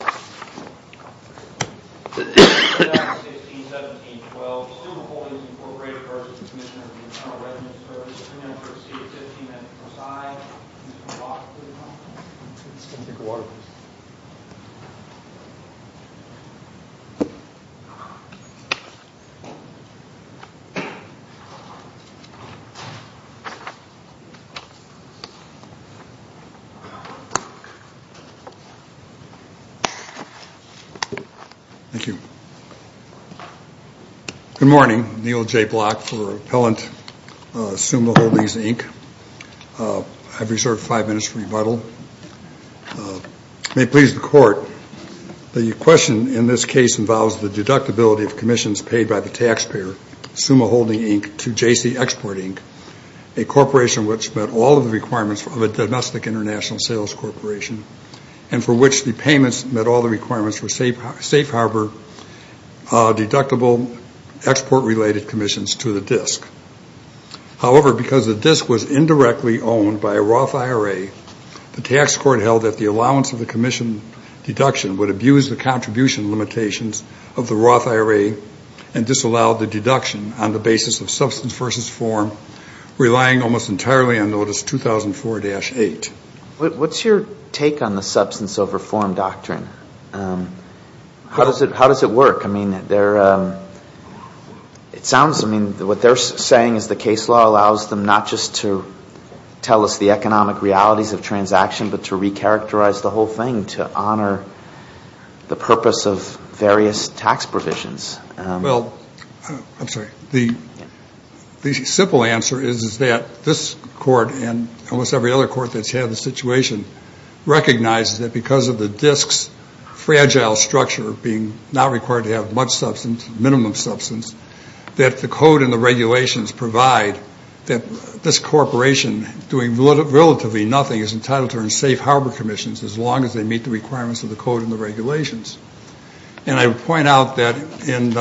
3 minutes per seat, 15 minutes per side, please come to the box, please come to the box. Thank you. Good morning, Neil J. Block for Appellant Summa Holdings Inc. I've reserved 5 minutes for rebuttal. May it please the Court, the question in this case involves the deductibility of commissions paid by the taxpayer, Summa Holding Inc. to J.C. Export Inc., a corporation which met all of the requirements of a domestic international sales corporation, and for which the payments met all of the requirements of a domestic international sales corporation. They met all the requirements for safe harbor deductible export-related commissions to the DISC. However, because the DISC was indirectly owned by a Roth IRA, the tax court held that the allowance of the commission deduction would abuse the contribution limitations of the Roth IRA and disallow the deduction on the basis of substance versus form, relying almost entirely on Notice 2004-8. What's your take on the substance over form doctrine? How does it work? I mean, it sounds, I mean, what they're saying is the case law allows them not just to tell us the economic realities of transaction, but to recharacterize the whole thing to honor the purpose of various tax provisions. Well, I'm sorry, the simple answer is that this court and almost every other court that's had the situation recognizes that because of the DISC's fragile structure being not required to have much substance, minimum substance, that the code and the regulations provide that this corporation doing relatively nothing is entitled to earn safe harbor commissions as long as they meet the requirements of the code and the regulations. And I would point out that in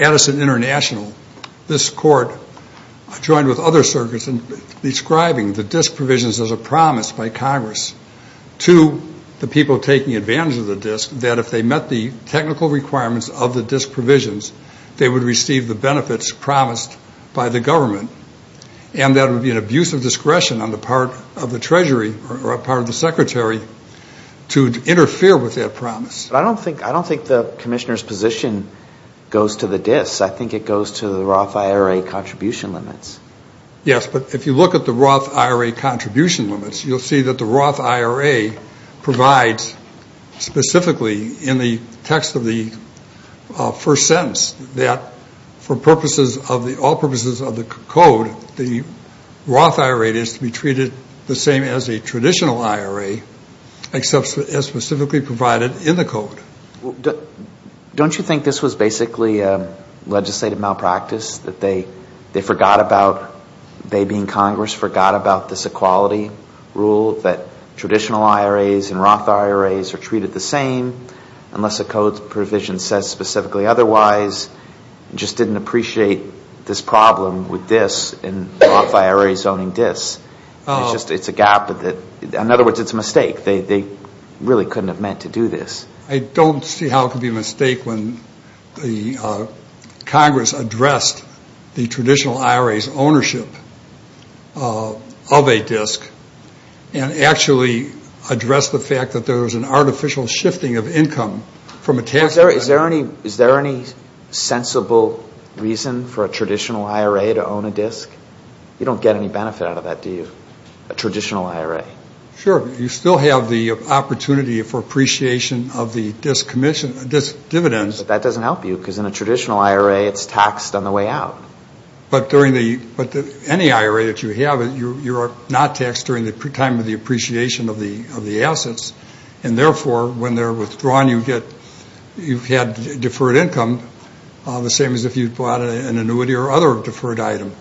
Addison International, this court joined with other circuits in describing the DISC provisions as a promise by Congress to the people taking advantage of the DISC that if they met the technical requirements of the DISC provisions, they would receive the benefits promised by the government, and that would be an abuse of discretion on the part of the Treasury or a part of the Secretary to interfere with that promise. But I don't think the commissioner's position goes to the DISC. I think it goes to the Roth IRA contribution limits. Yes, but if you look at the Roth IRA contribution limits, you'll see that the Roth IRA provides specifically in the text of the first sentence that for purposes of the, all purposes of the code, the Roth IRA is to be treated the same as a traditional IRA except as specifically provided in the code. Don't you think this was basically a legislative malpractice, that they forgot about, they being Congress, forgot about this equality rule that traditional IRAs and Roth IRAs are treated the same unless a code provision says specifically otherwise, and just didn't appreciate this problem with DISC and Roth IRAs owning DISC? It's just, it's a gap. In other words, it's a mistake. They really couldn't have meant to do this. I don't see how it could be a mistake when the Congress addressed the traditional IRA's ownership of a DISC and actually addressed the fact that there was an artificial shifting of income from a taxpayer. Is there any sensible reason for a traditional IRA to own a DISC? You don't get any benefit out of that, do you, a traditional IRA? Sure. You still have the opportunity for appreciation of the DISC dividends. But that doesn't help you, because in a traditional IRA, it's taxed on the way out. But during the, any IRA that you have, you are not taxed during the time of the appreciation of the assets, and therefore, when they're withdrawn, you get, you've had deferred income, the same as if you bought an annuity or other deferred item.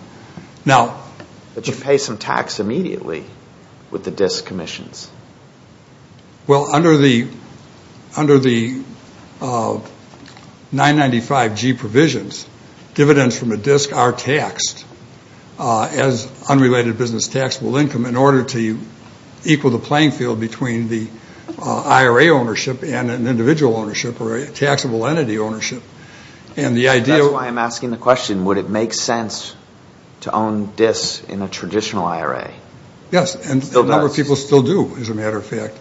But you pay some tax immediately with the DISC commissions. Well, under the 995G provisions, dividends from a DISC are taxed as unrelated business taxable income in order to equal the playing field between the IRA ownership and an individual ownership or a taxable entity ownership. That's why I'm asking the question, would it make sense to own DISC in a traditional IRA? Yes, and a number of people still do, as a matter of fact.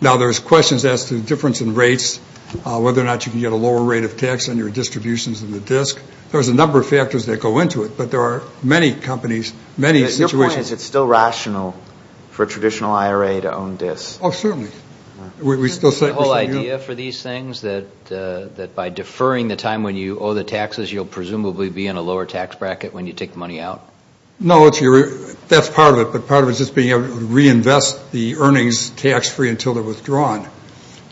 Now, there's questions as to the difference in rates, whether or not you can get a lower rate of tax on your distributions in the DISC. There's a number of factors that go into it, but there are many companies, many situations. Your point is it's still rational for a traditional IRA to own DISC. Oh, certainly. The whole idea for these things, that by deferring the time when you owe the taxes, you'll presumably be in a lower tax bracket when you take the money out? No, that's part of it, but part of it is just being able to reinvest the earnings tax-free until they're withdrawn.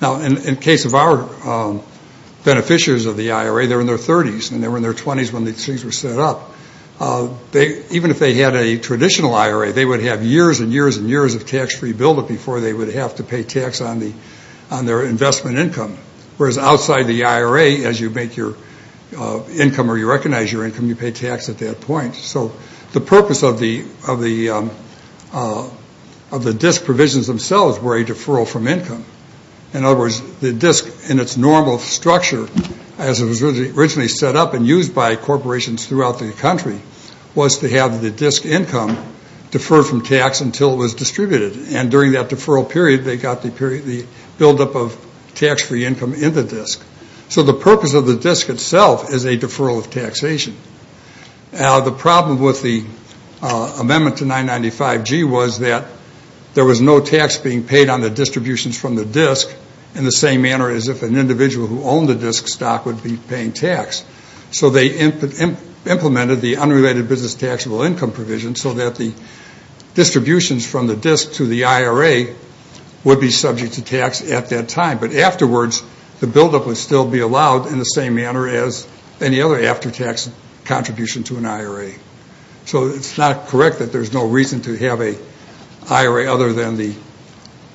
Now, in the case of our beneficiaries of the IRA, they're in their 30s, and they were in their 20s when these things were set up. Even if they had a traditional IRA, they would have years and years and years of tax-free buildup before they would have to pay tax on their investment income. Whereas outside the IRA, as you make your income or you recognize your income, you pay tax at that point. So the purpose of the DISC provisions themselves were a deferral from income. In other words, the DISC in its normal structure, as it was originally set up and used by corporations throughout the country, was to have the DISC income deferred from tax until it was distributed. And during that deferral period, they got the buildup of tax-free income in the DISC. So the purpose of the DISC itself is a deferral of taxation. Now, the problem with the amendment to 995G was that there was no tax being paid on the distributions from the DISC in the same manner as if an individual who owned a DISC stock would be paying tax. So they implemented the unrelated business taxable income provision so that the distributions from the DISC to the IRA would be subject to tax at that time. But afterwards, the buildup would still be allowed in the same manner as any other after-tax contribution to an IRA. So it's not correct that there's no reason to have an IRA other than the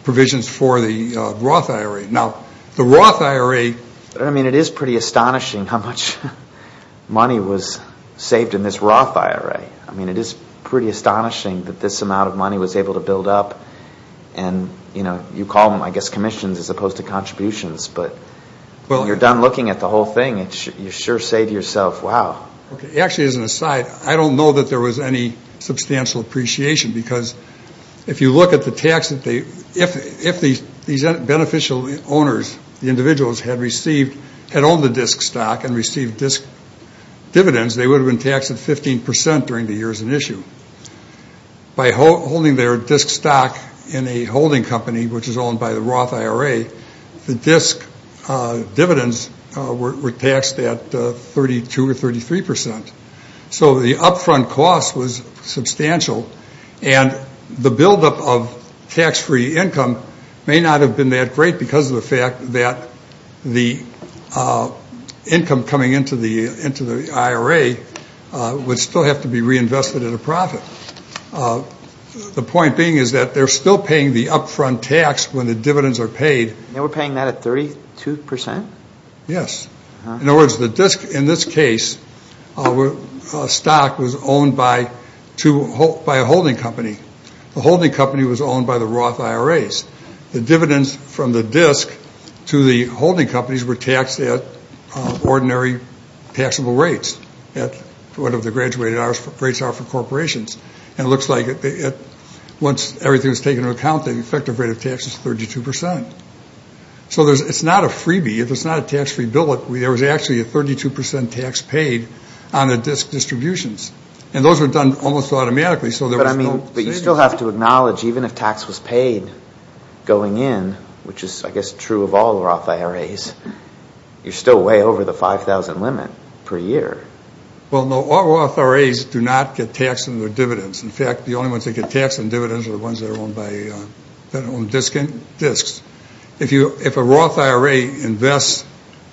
provisions for the Roth IRA. Now, the Roth IRA... I mean, it is pretty astonishing how much money was saved in this Roth IRA. I mean, it is pretty astonishing that this amount of money was able to build up. And, you know, you call them, I guess, commissions as opposed to contributions. But when you're done looking at the whole thing, you sure say to yourself, wow. Actually, as an aside, I don't know that there was any substantial appreciation because if you look at the tax that they... If these beneficial owners, the individuals, had received... had owned the DISC stock and received DISC dividends, they would have been taxed at 15% during the years in issue. By holding their DISC stock in a holding company, which is owned by the Roth IRA, the DISC dividends were taxed at 32% or 33%. So the upfront cost was substantial. And the buildup of tax-free income may not have been that great because of the fact that the income coming into the IRA would still have to be reinvested at a profit. The point being is that they're still paying the upfront tax when the dividends are paid. And we're paying that at 32%? Yes. In other words, the DISC, in this case, stock was owned by a holding company. The holding company was owned by the Roth IRAs. The dividends from the DISC to the holding companies were taxed at ordinary taxable rates, at whatever the graduated rates are for corporations. And it looks like once everything was taken into account, the effective rate of tax is 32%. So it's not a freebie. If it's not a tax-free buildup, there was actually a 32% tax paid on the DISC distributions. And those were done almost automatically, so there was no savings. But you still have to acknowledge, even if tax was paid going in, which is, I guess, true of all the Roth IRAs, you're still way over the 5,000 limit per year. Well, no, all Roth IRAs do not get taxed on their dividends. In fact, the only ones that get taxed on dividends are the ones that are owned by DISCs. If a Roth IRA invests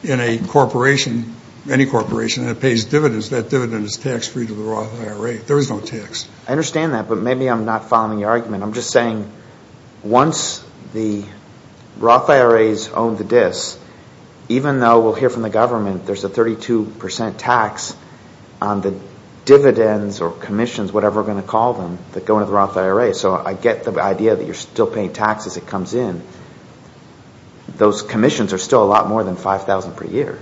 in a corporation, any corporation, and it pays dividends, that dividend is tax-free to the Roth IRA. There is no tax. I understand that, but maybe I'm not following your argument. I'm just saying once the Roth IRAs own the DISC, even though we'll hear from the government, there's a 32% tax on the dividends or commissions, whatever we're going to call them, that go into the Roth IRA. So I get the idea that you're still paying tax as it comes in. Those commissions are still a lot more than 5,000 per year.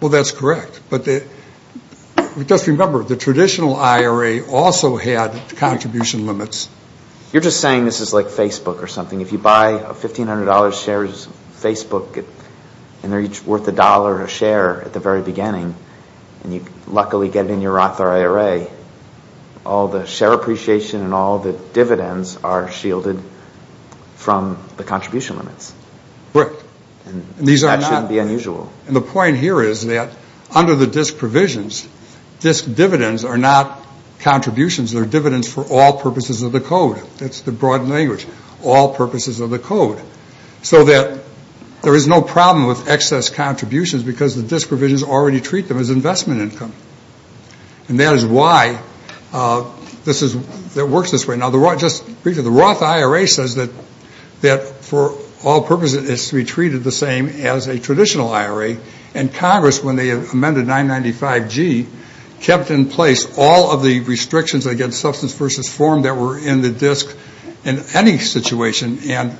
Well, that's correct. Just remember, the traditional IRA also had contribution limits. You're just saying this is like Facebook or something. If you buy $1,500 shares of Facebook and they're each worth a dollar a share at the very beginning and you luckily get it in your Roth IRA, all the share appreciation and all the dividends are shielded from the contribution limits. Correct. That shouldn't be unusual. And the point here is that under the DISC provisions, DISC dividends are not contributions. They're dividends for all purposes of the code. That's the broad language, all purposes of the code. So that there is no problem with excess contributions because the DISC provisions already treat them as investment income. And that is why it works this way. The Roth IRA says that for all purposes it's to be treated the same as a traditional IRA. And Congress, when they amended 995G, kept in place all of the restrictions against substance versus form that were in the DISC in any situation. And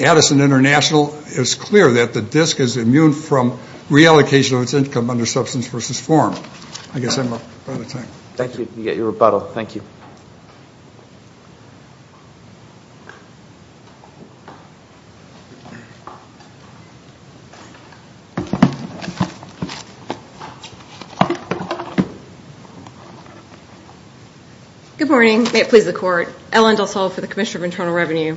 Addison International is clear that the DISC is immune from reallocation of its income under substance versus form. I guess I'm out of time. Thank you. You get your rebuttal. Thank you. Good morning. May it please the Court. Ellen Delsall for the Commissioner of Internal Revenue.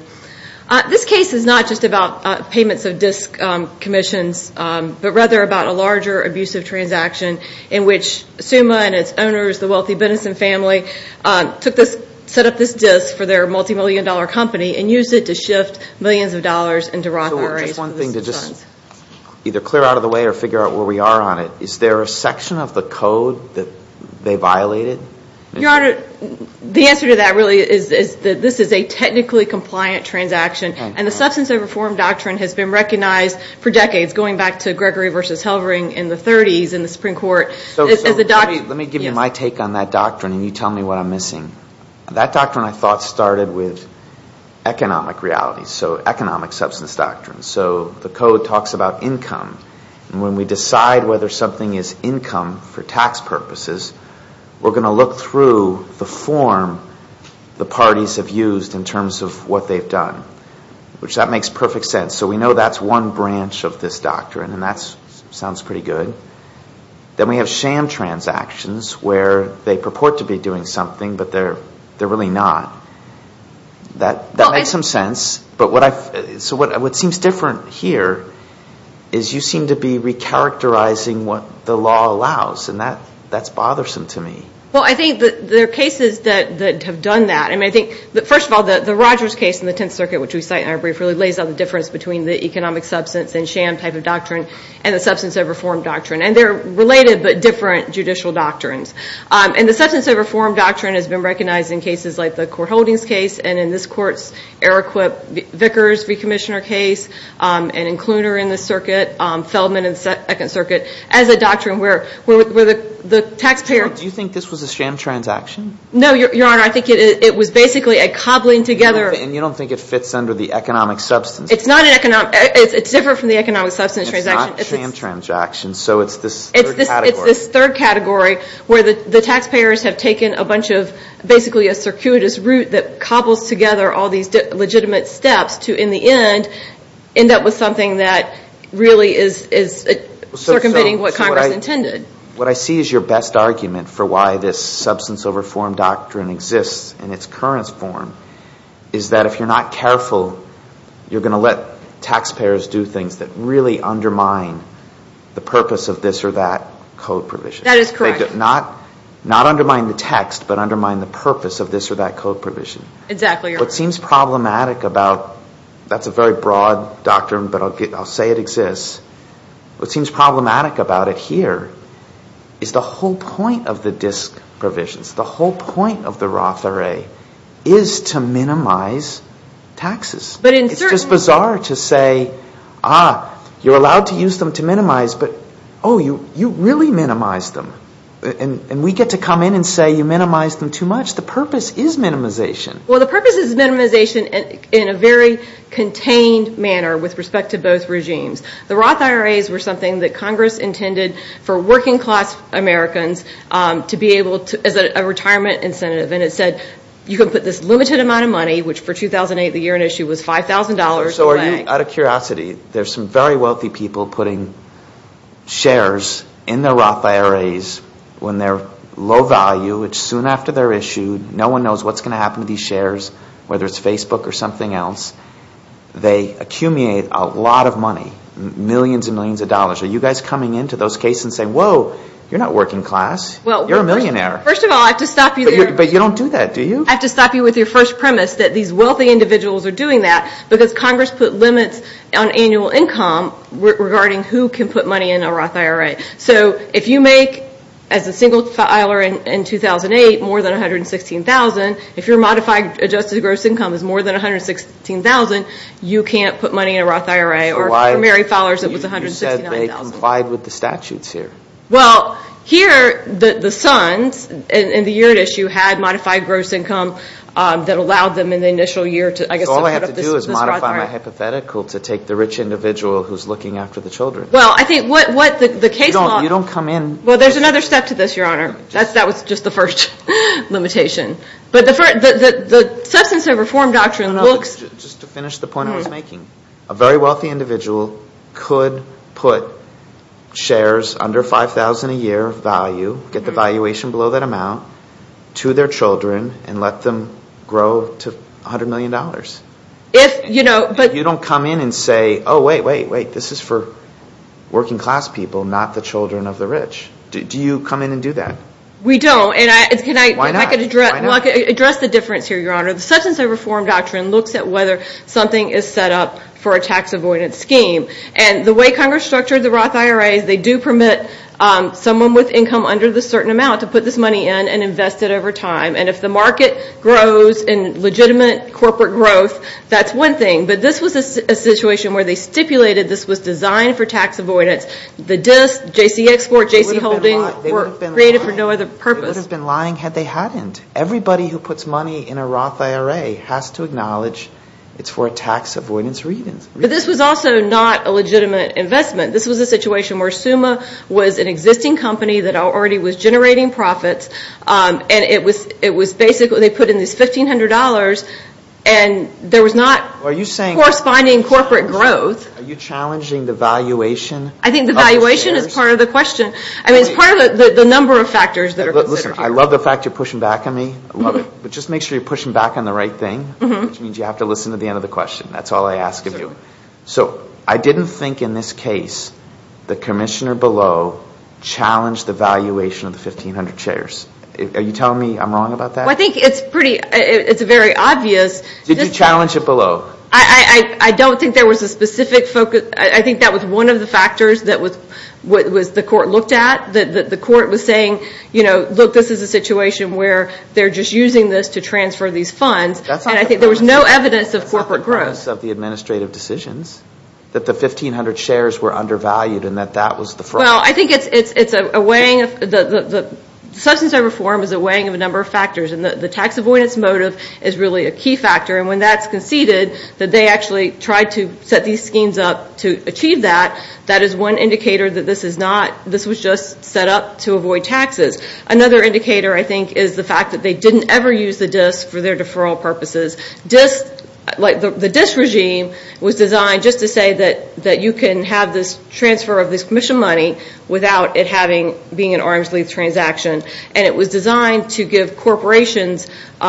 This case is not just about payments of DISC commissions, but rather about a larger abusive transaction in which SUMA and its owners, the wealthy Bennison family, set up this DISC for their multimillion-dollar company and used it to shift millions of dollars into Roth IRAs. So just one thing to just either clear out of the way or figure out where we are on it. Is there a section of the code that they violated? Your Honor, the answer to that really is that this is a technically compliant transaction. And the substance over form doctrine has been recognized for decades, going back to Gregory v. Helring in the 30s in the Supreme Court. Let me give you my take on that doctrine, and you tell me what I'm missing. That doctrine, I thought, started with economic realities, so economic substance doctrine. So the code talks about income. And when we decide whether something is income for tax purposes, we're going to look through the form the parties have used in terms of what they've done, which that makes perfect sense. So we know that's one branch of this doctrine, and that sounds pretty good. Then we have sham transactions where they purport to be doing something, but they're really not. That makes some sense. So what seems different here is you seem to be recharacterizing what the law allows, and that's bothersome to me. Well, I think there are cases that have done that. First of all, the Rogers case in the Tenth Circuit, which we cite in our brief, really lays out the difference between the economic substance and sham type of doctrine and the substance of reform doctrine. And they're related but different judicial doctrines. And the substance of reform doctrine has been recognized in cases like the Court Holdings case and in this Court's Eriquip Vickers recommissioner case, and in Cluner in this circuit, Feldman in the Second Circuit, as a doctrine where the taxpayer- Do you think this was a sham transaction? No, Your Honor. I think it was basically a cobbling together- And you don't think it fits under the economic substance? It's not an economic- It's different from the economic substance transaction. It's not a sham transaction, so it's this third category. It's this third category where the taxpayers have taken a bunch of basically a circuitous route that cobbles together all these legitimate steps to, in the end, end up with something that really is circumventing what Congress intended. What I see as your best argument for why this substance over form doctrine exists in its current form is that if you're not careful, you're going to let taxpayers do things that really undermine the purpose of this or that code provision. That is correct. Not undermine the text, but undermine the purpose of this or that code provision. Exactly, Your Honor. What seems problematic about- That's a very broad doctrine, but I'll say it exists. What seems problematic about it here is the whole point of the DISC provisions, the whole point of the Roth IRA is to minimize taxes. But in certain- It's just bizarre to say, ah, you're allowed to use them to minimize, but, oh, you really minimize them. And we get to come in and say you minimize them too much. The purpose is minimization. Well, the purpose is minimization in a very contained manner with respect to both regimes. The Roth IRAs were something that Congress intended for working class Americans to be able to, as a retirement incentive. And it said you could put this limited amount of money, which for 2008, the year in issue, was $5,000. So are you out of curiosity, there's some very wealthy people putting shares in their Roth IRAs when they're low value, which soon after they're issued, no one knows what's going to happen to these shares, whether it's Facebook or something else. They accumulate a lot of money, millions and millions of dollars. Are you guys coming into those cases and saying, whoa, you're not working class. You're a millionaire. First of all, I have to stop you there. But you don't do that, do you? I have to stop you with your first premise that these wealthy individuals are doing that because Congress put limits on annual income regarding who can put money in a Roth IRA. So if you make, as a single filer in 2008, more than $116,000, if your modified adjusted gross income is more than $116,000, you can't put money in a Roth IRA. Or if you're a married filer, it was $169,000. You said they complied with the statutes here. Well, here, the sons in the year in issue had modified gross income that allowed them in the initial year to, I guess, So all I have to do is modify my hypothetical to take the rich individual who's looking after the children. Well, I think what the case law You don't come in Well, there's another step to this, Your Honor. That was just the first limitation. But the substance of reform doctrine looks Just to finish the point I was making. A very wealthy individual could put shares under $5,000 a year of value, get the valuation below that amount, to their children and let them grow to $100 million. If you don't come in and say, oh, wait, wait, wait. This is for working class people, not the children of the rich. Do you come in and do that? We don't. Why not? I can address the difference here, Your Honor. The substance of reform doctrine looks at whether something is set up for a tax avoidance scheme. And the way Congress structured the Roth IRA is they do permit someone with income under the certain amount to put this money in and invest it over time. And if the market grows in legitimate corporate growth, that's one thing. But this was a situation where they stipulated this was designed for tax avoidance. The disc, J.C. Export, J.C. Holding were created for no other purpose. They would have been lying had they hadn't. Everybody who puts money in a Roth IRA has to acknowledge it's for a tax avoidance reason. But this was also not a legitimate investment. This was a situation where Summa was an existing company that already was generating profits. And it was basically they put in this $1,500, and there was not corresponding corporate growth. Are you challenging the valuation? I think the valuation is part of the question. I mean, it's part of the number of factors that are considered here. Listen, I love the fact you're pushing back on me. I love it. But just make sure you're pushing back on the right thing, which means you have to listen to the end of the question. That's all I ask of you. So I didn't think in this case the commissioner below challenged the valuation of the 1,500 shares. Are you telling me I'm wrong about that? Well, I think it's pretty – it's very obvious. Did you challenge it below? I don't think there was a specific focus. I think that was one of the factors that the court looked at. The court was saying, you know, look, this is a situation where they're just using this to transfer these funds. And I think there was no evidence of corporate growth. That's not the premise of the administrative decisions, that the 1,500 shares were undervalued and that that was the fraud. Well, I think it's a weighing of – the substance of reform is a weighing of a number of factors. And the tax avoidance motive is really a key factor. And when that's conceded, that they actually tried to set these schemes up to achieve that, that is one indicator that this is not – this was just set up to avoid taxes. Another indicator, I think, is the fact that they didn't ever use the DIS for their deferral purposes. The DIS regime was designed just to say that you can have this transfer of this commission money without it having – being an arm's length transaction. And it was designed to give corporations –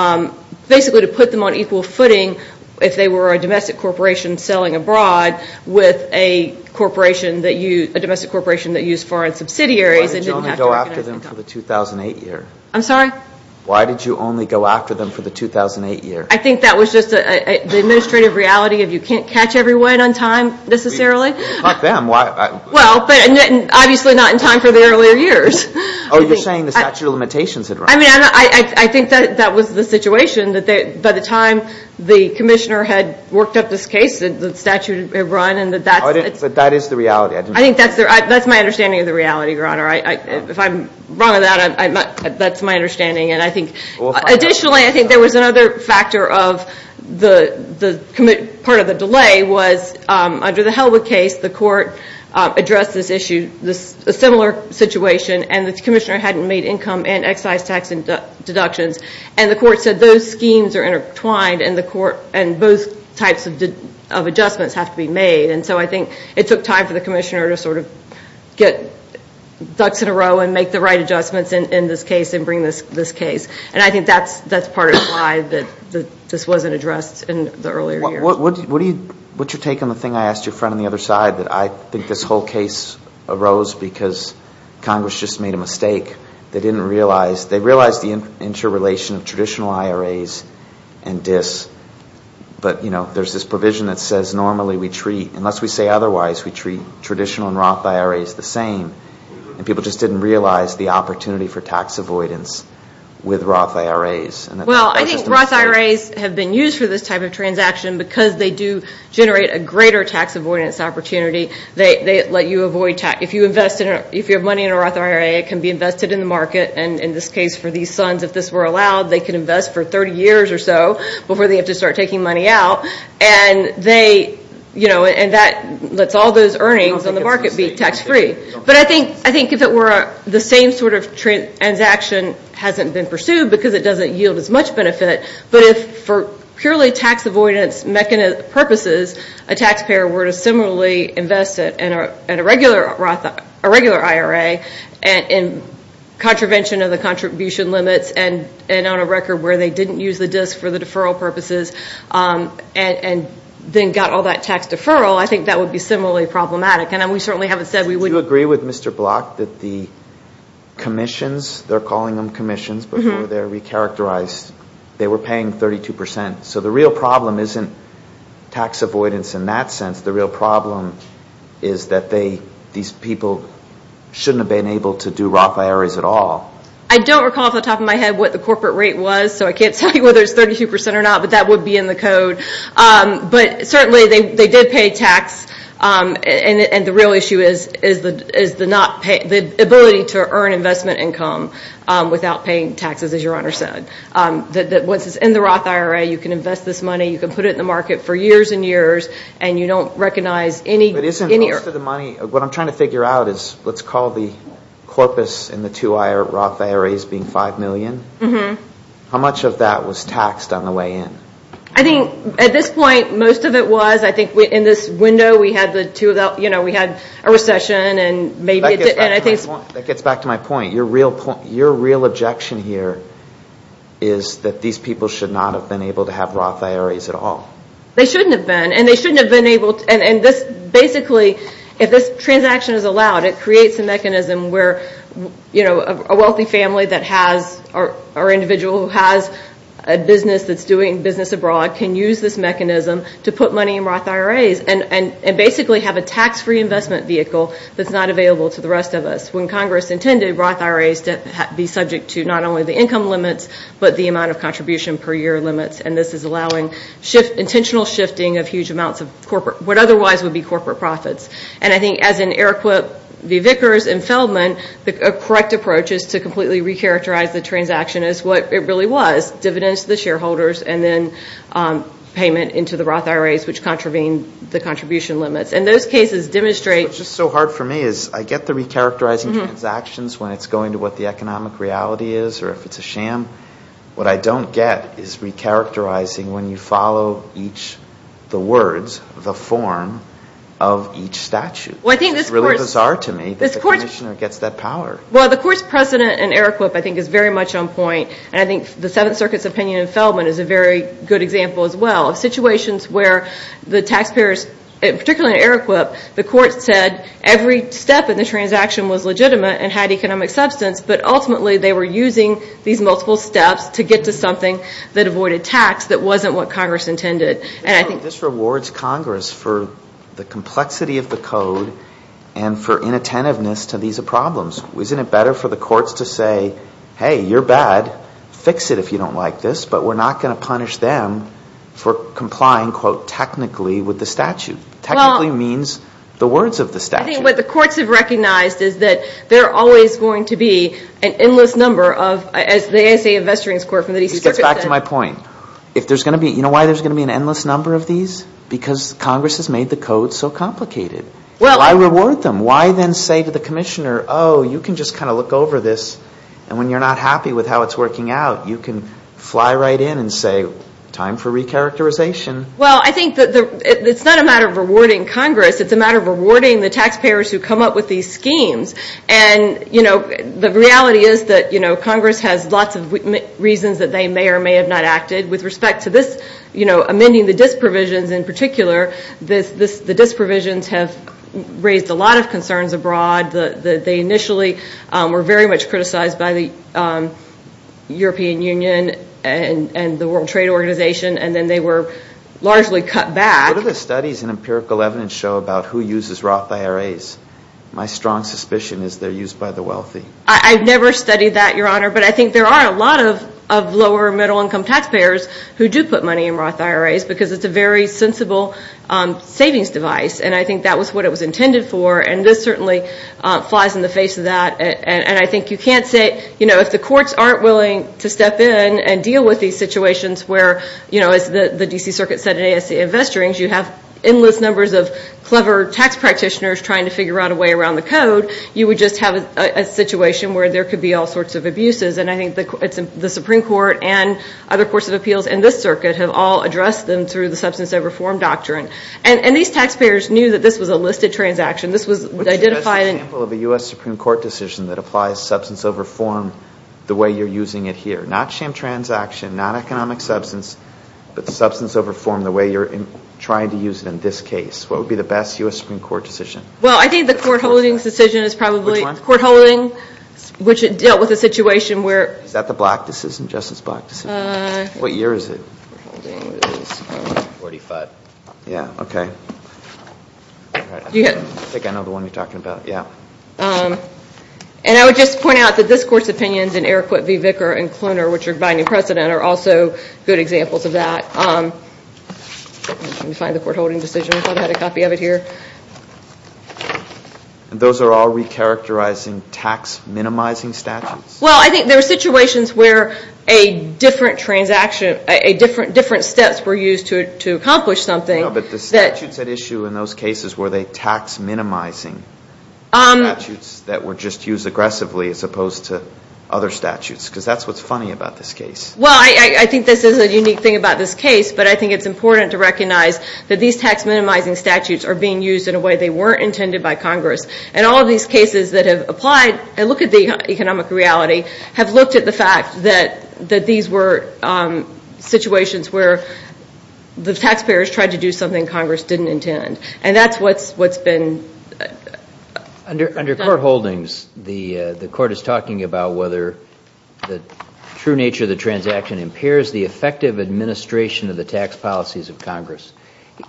basically to put them on equal footing if they were a domestic corporation selling abroad with a corporation that used – a domestic corporation that used foreign subsidiaries. Why did you only go after them for the 2008 year? I'm sorry? Why did you only go after them for the 2008 year? I think that was just the administrative reality of you can't catch everyone on time, necessarily. Not them. Well, but obviously not in time for the earlier years. Oh, you're saying the statute of limitations had run. I mean, I think that was the situation that by the time the commissioner had worked up this case, the statute had run and that that's – But that is the reality. I think that's – that's my understanding of the reality, Your Honor. If I'm wrong on that, that's my understanding. And I think – additionally, I think there was another factor of the – part of the delay was under the Hellwood case, the court addressed this issue, a similar situation, and the commissioner hadn't made income and excise tax deductions. And the court said those schemes are intertwined and the court – and both types of adjustments have to be made. And so I think it took time for the commissioner to sort of get ducks in a row and make the right adjustments in this case and bring this case. And I think that's part of why this wasn't addressed in the earlier years. What's your take on the thing I asked your friend on the other side, that I think this whole case arose because Congress just made a mistake. They didn't realize – they realized the interrelation of traditional IRAs and DIS. But, you know, there's this provision that says normally we treat – unless we say otherwise, we treat traditional and Roth IRAs the same. And people just didn't realize the opportunity for tax avoidance with Roth IRAs. Well, I think Roth IRAs have been used for this type of transaction because they do generate a greater tax avoidance opportunity. They let you avoid – if you invest – if you have money in a Roth IRA, it can be invested in the market. And in this case, for these sons, if this were allowed, they could invest for 30 years or so before they have to start taking money out. And they – you know, and that lets all those earnings in the market be tax-free. But I think if it were the same sort of transaction hasn't been pursued because it doesn't yield as much benefit. But if for purely tax avoidance purposes, a taxpayer were to similarly invest in a regular IRA in contravention of the contribution limits and on a record where they didn't use the DIS for the deferral purposes and then got all that tax deferral, I think that would be similarly problematic. And we certainly haven't said we wouldn't. Do you agree with Mr. Block that the commissions – they're calling them commissions before they're recharacterized – they were paying 32 percent. So the real problem isn't tax avoidance in that sense. The real problem is that they – these people shouldn't have been able to do Roth IRAs at all. I don't recall off the top of my head what the corporate rate was, so I can't tell you whether it's 32 percent or not, but that would be in the code. But certainly they did pay tax. And the real issue is the not – the ability to earn investment income without paying taxes, as Your Honor said. Once it's in the Roth IRA, you can invest this money, you can put it in the market for years and years, and you don't recognize any – But isn't most of the money – what I'm trying to figure out is, let's call the corpus in the two Roth IRAs being 5 million. How much of that was taxed on the way in? I think at this point, most of it was. I think in this window, we had the two – we had a recession and maybe – That gets back to my point. Your real objection here is that these people should not have been able to have Roth IRAs at all. They shouldn't have been. And they shouldn't have been able – and this – basically, if this transaction is allowed, it creates a mechanism where a wealthy family that has – or an individual who has a business that's doing business abroad can use this mechanism to put money in Roth IRAs and basically have a tax-free investment vehicle that's not available to the rest of us. When Congress intended Roth IRAs to be subject to not only the income limits, but the amount of contribution per year limits. And this is allowing intentional shifting of huge amounts of corporate – what otherwise would be corporate profits. And I think, as in Eric Whipp v. Vickers and Feldman, the correct approach is to completely recharacterize the transaction as what it really was – dividends to the shareholders and then payment into the Roth IRAs, which contravene the contribution limits. And those cases demonstrate – What's just so hard for me is I get the recharacterizing transactions when it's going to what the economic reality is, or if it's a sham. What I don't get is recharacterizing when you follow each – the words, the form of each statute. Well, I think this court – It's really bizarre to me that the commissioner gets that power. Well, the court's precedent in Eric Whipp, I think, is very much on point. And I think the Seventh Circuit's opinion in Feldman is a very good example as well. Situations where the taxpayers – particularly in Eric Whipp, the court said every step in the transaction was legitimate and had economic substance, but ultimately they were using these multiple steps to get to something that avoided tax that wasn't what Congress intended. And I think – This rewards Congress for the complexity of the code and for inattentiveness to these problems. Isn't it better for the courts to say, hey, you're bad, fix it if you don't like this, but we're not going to punish them for complying, quote, technically with the statute? Technically means the words of the statute. Well, I think what the courts have recognized is that there are always going to be an endless number of – as the ASA Investorings Court from the Seventh Circuit said – It gets back to my point. If there's going to be – you know why there's going to be an endless number of these? Because Congress has made the code so complicated. Why reward them? And why then say to the commissioner, oh, you can just kind of look over this, and when you're not happy with how it's working out, you can fly right in and say, time for recharacterization. Well, I think it's not a matter of rewarding Congress. It's a matter of rewarding the taxpayers who come up with these schemes. And the reality is that Congress has lots of reasons that they may or may have not acted. With respect to this, amending the DIS provisions in particular, the DIS provisions have raised a lot of concerns abroad. They initially were very much criticized by the European Union and the World Trade Organization, and then they were largely cut back. What do the studies and empirical evidence show about who uses Roth IRAs? My strong suspicion is they're used by the wealthy. I've never studied that, Your Honor, but I think there are a lot of lower-middle-income taxpayers who do put money in Roth IRAs because it's a very sensible savings device, and I think that was what it was intended for, and this certainly flies in the face of that. And I think you can't say, you know, if the courts aren't willing to step in and deal with these situations where, you know, as the D.C. Circuit said in ASC Investigations, you have endless numbers of clever tax practitioners trying to figure out a way around the code, you would just have a situation where there could be all sorts of abuses. And I think the Supreme Court and other courts of appeals in this circuit have all addressed them through the substance over form doctrine. And these taxpayers knew that this was a listed transaction. This was identified in... What's your best example of a U.S. Supreme Court decision that applies substance over form the way you're using it here? Not sham transaction, not economic substance, but substance over form the way you're trying to use it in this case. What would be the best U.S. Supreme Court decision? Well, I think the court holdings decision is probably... Which one? Court holdings, which dealt with a situation where... Is that the Black decision, Justice Black decision? What year is it? Forty-five. Yeah, okay. I think I know the one you're talking about, yeah. And I would just point out that this Court's opinions in Eriquette v. Vicker and Kloener, which are binding precedent, are also good examples of that. Let me find the court holdings decision. I thought I had a copy of it here. Those are all recharacterizing tax minimizing statutes? Well, I think there are situations where different steps were used to accomplish something. No, but the statutes at issue in those cases, were they tax minimizing statutes that were just used aggressively as opposed to other statutes? Because that's what's funny about this case. Well, I think this is a unique thing about this case, but I think it's important to recognize that these tax minimizing statutes are being used in a way they weren't intended by Congress. And all of these cases that have applied and look at the economic reality have looked at the fact that these were situations where the taxpayers tried to do something Congress didn't intend. And that's what's been done. Under court holdings, the Court is talking about whether the true nature of the transaction impairs the effective administration of the tax policies of Congress.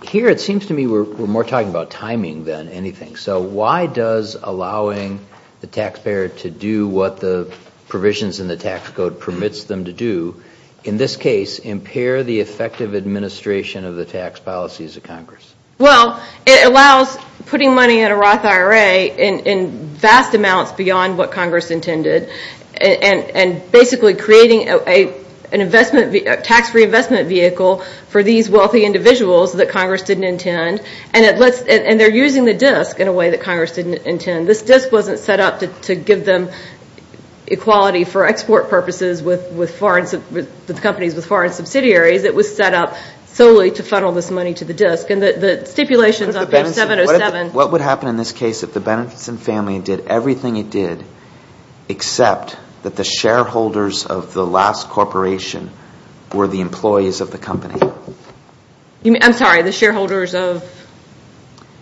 Here it seems to me we're more talking about timing than anything. So why does allowing the taxpayer to do what the provisions in the tax code permits them to do, in this case impair the effective administration of the tax policies of Congress? Well, it allows putting money in a Roth IRA in vast amounts beyond what Congress intended and basically creating a tax-free investment vehicle for these wealthy individuals that Congress didn't intend. And they're using the disk in a way that Congress didn't intend. This disk wasn't set up to give them equality for export purposes with companies with foreign subsidiaries. It was set up solely to funnel this money to the disk. And the stipulations on page 707... What would happen in this case if the Benenson family did everything it did except that the shareholders of the last corporation were the employees of the company? I'm sorry, the shareholders of...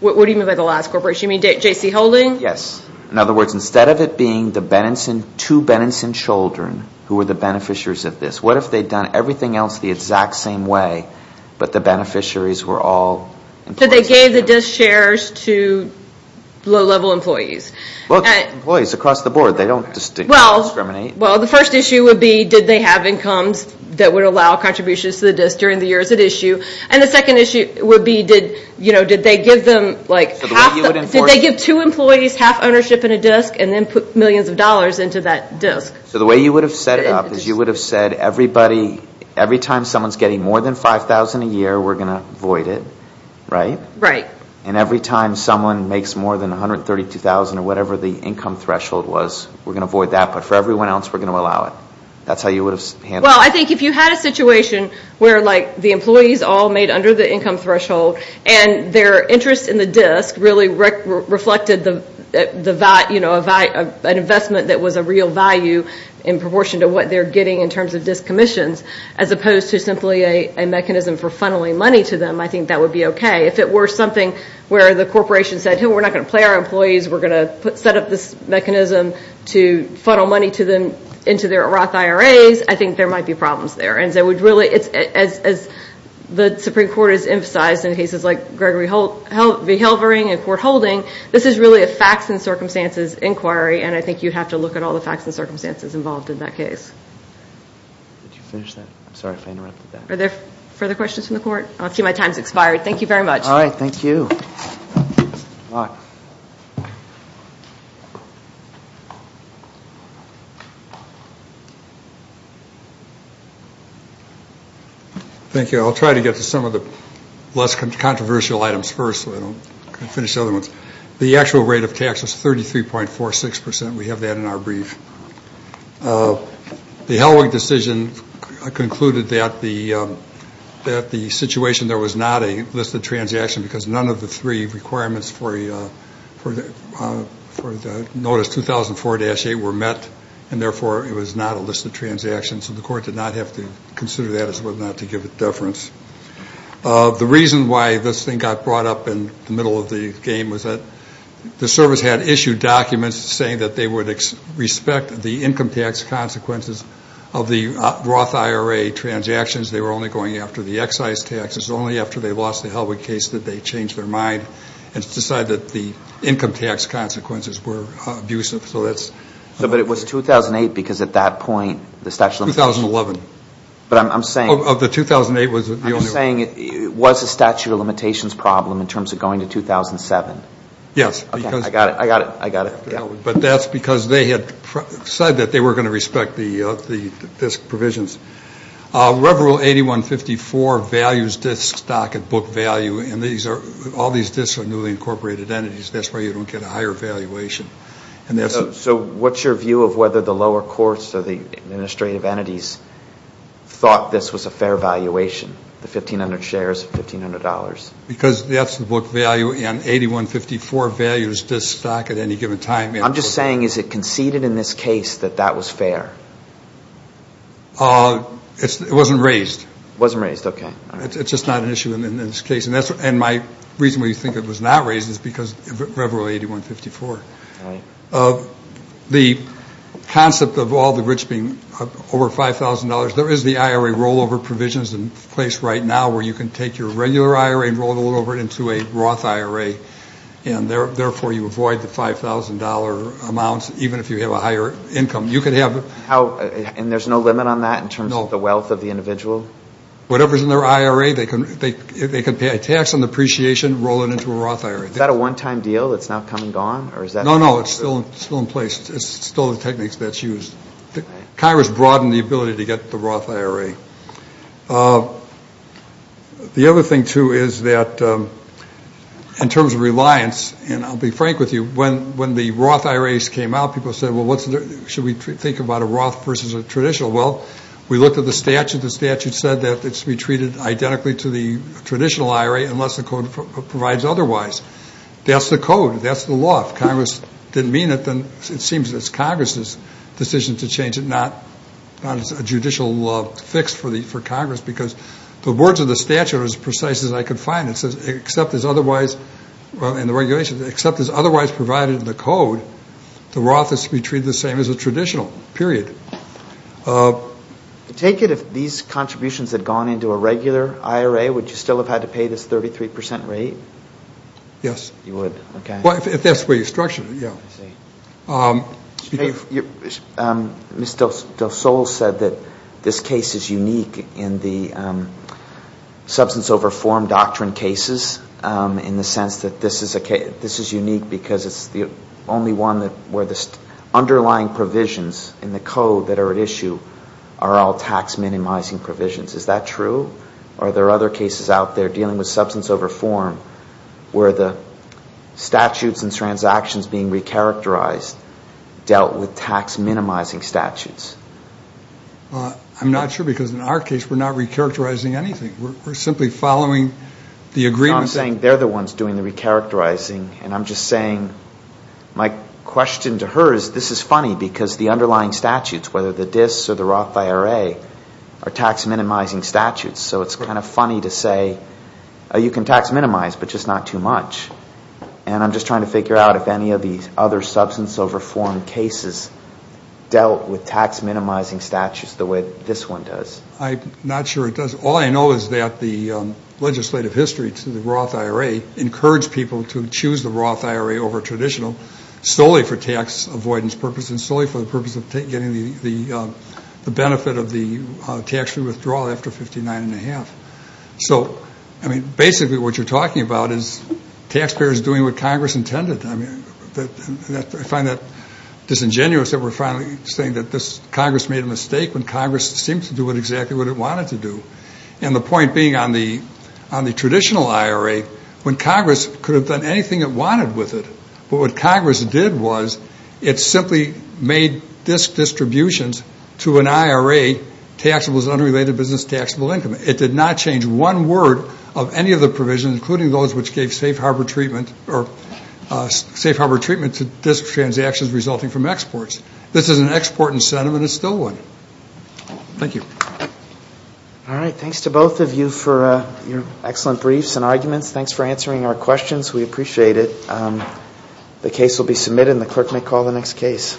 What do you mean by the last corporation? You mean J.C. Holding? Yes. In other words, instead of it being the two Benenson children who were the beneficiaries of this, what if they'd done everything else the exact same way but the beneficiaries were all... So they gave the disk shares to low-level employees. Well, employees across the board. They don't discriminate. Well, the first issue would be, did they have incomes that would allow contributions to the disk during the years at issue? And the second issue would be, did they give them... Did they give two employees half ownership in a disk and then put millions of dollars into that disk? So the way you would have set it up is you would have said, every time someone's getting more than $5,000 a year, we're going to void it, right? Right. And every time someone makes more than $132,000 or whatever the income threshold was, we're going to void that. But for everyone else, we're going to allow it. That's how you would have handled it. Well, I think if you had a situation where the employees all made under the income threshold and their interest in the disk really reflected an investment that was a real value in proportion to what they're getting in terms of disk commissions, as opposed to simply a mechanism for funneling money to them, I think that would be okay. If it were something where the corporation said, we're not going to play our employees, we're going to set up this mechanism to funnel money to them into their Roth IRAs, I think there might be problems there. And as the Supreme Court has emphasized in cases like Gregory v. Halvering and court holding, this is really a facts and circumstances inquiry, and I think you'd have to look at all the facts and circumstances involved in that case. Did you finish that? I'm sorry if I interrupted that. Are there further questions from the court? I see my time's expired. Thank you very much. All right. Thank you. Thank you. I'll try to get to some of the less controversial items first so I don't finish the other ones. The actual rate of tax was 33.46%. We have that in our brief. The Halvering decision concluded that the situation, there was not a listed transaction because none of the three requirements for the notice 2004-8 were met, and therefore it was not a listed transaction. So the court did not have to consider that as whether or not to give it deference. The reason why this thing got brought up in the middle of the game was that the service had issued documents saying that they would respect the income tax consequences of the Roth IRA transactions. They were only going after the excise taxes. Only after they lost the Halvering case did they change their mind and decide that the income tax consequences were abusive. But it was 2008 because at that point the statute of limitations... 2011. But I'm saying... Of the 2008... I'm saying it was a statute of limitations problem in terms of going to 2007. Yes. I got it. I got it. But that's because they had said that they were going to respect the disk provisions. Rev. Rule 8154 values disk stock at book value and all these disks are newly incorporated entities. That's why you don't get a higher valuation. So what's your view of whether the lower courts or the administrative entities thought this was a fair valuation, the 1,500 shares of $1,500? Because that's the book value and 8154 values disk stock at any given time. I'm just saying is it conceded in this case that that was fair? It wasn't raised. It wasn't raised. Okay. It's just not an issue in this case. And my reason why you think it was not raised is because of Rev. Rule 8154. Right. The concept of all the rich being over $5,000, there is the IRA rollover provisions in place right now where you can take your regular IRA and roll it all over into a Roth IRA and therefore you avoid the $5,000 amounts even if you have a higher income. You can have... And there's no limit on that in terms of the wealth of the individual? No. Whatever's in their IRA, they can pay a tax on the appreciation, roll it into a Roth IRA. Is that a one-time deal that's now come and gone? No, no. It's still in place. It's still the techniques that's used. Congress broadened the ability to get the Roth IRA. The other thing too is that in terms of reliance, and I'll be frank with you, when the Roth IRAs came out, people said, well, should we think about a Roth versus a traditional? Well, we looked at the statute. The statute said that it should be treated identically to the traditional IRA unless the code provides otherwise. That's the code. That's the law. If Congress didn't mean it, then it seems it's Congress's decision to change it, not a judicial law fixed for Congress because the words of the statute are as precise as I could find. It says, except as otherwise... Well, in the regulations, except as otherwise provided in the code, the Roth is to be treated the same as a traditional, period. Take it if these contributions had gone into a regular IRA, would you still have had to pay this 33% rate? Yes. You would? Okay. Well, if that's where you structure it, yeah. I see. Ms. DeSole said that this case is unique in the substance over form doctrine cases in the sense that this is unique because it's the only one where the underlying provisions in the code that are at issue are all tax-minimizing provisions. Is that true? Are there other cases out there dealing with substance over form where the statutes and transactions being recharacterized dealt with tax-minimizing statutes? I'm not sure because in our case we're not recharacterizing anything. We're simply following the agreement... I'm saying they're the ones doing the recharacterizing and I'm just saying my question to her is this is funny because the underlying statutes, whether the DIS or the Roth IRA, are tax-minimizing statutes. So it's kind of funny to say you can tax-minimize but just not too much. And I'm just trying to figure out if any of the other substance over form cases dealt with tax-minimizing statutes the way this one does. I'm not sure it does. All I know is that the legislative history to the Roth IRA encouraged people to choose the Roth IRA over traditional solely for tax avoidance purposes and solely for the purpose of getting the benefit of the tax-free withdrawal after 59 1⁄2. So, I mean, basically what you're talking about is taxpayers doing what Congress intended. I mean, I find that disingenuous that we're finally saying that Congress made a mistake when Congress seemed to do exactly what it wanted to do. And the point being on the traditional IRA, when Congress could have done anything it wanted with it but what Congress did was it simply made disk distributions to an IRA taxable as unrelated business taxable income. It did not change one word of any of the provisions, including those which gave safe harbor treatment to disk transactions resulting from exports. This is an export incentive and it's still one. Thank you. All right. Thanks to both of you for your excellent briefs and arguments. Thanks for answering our questions. We appreciate it. The case will be submitted and the clerk may call the next case.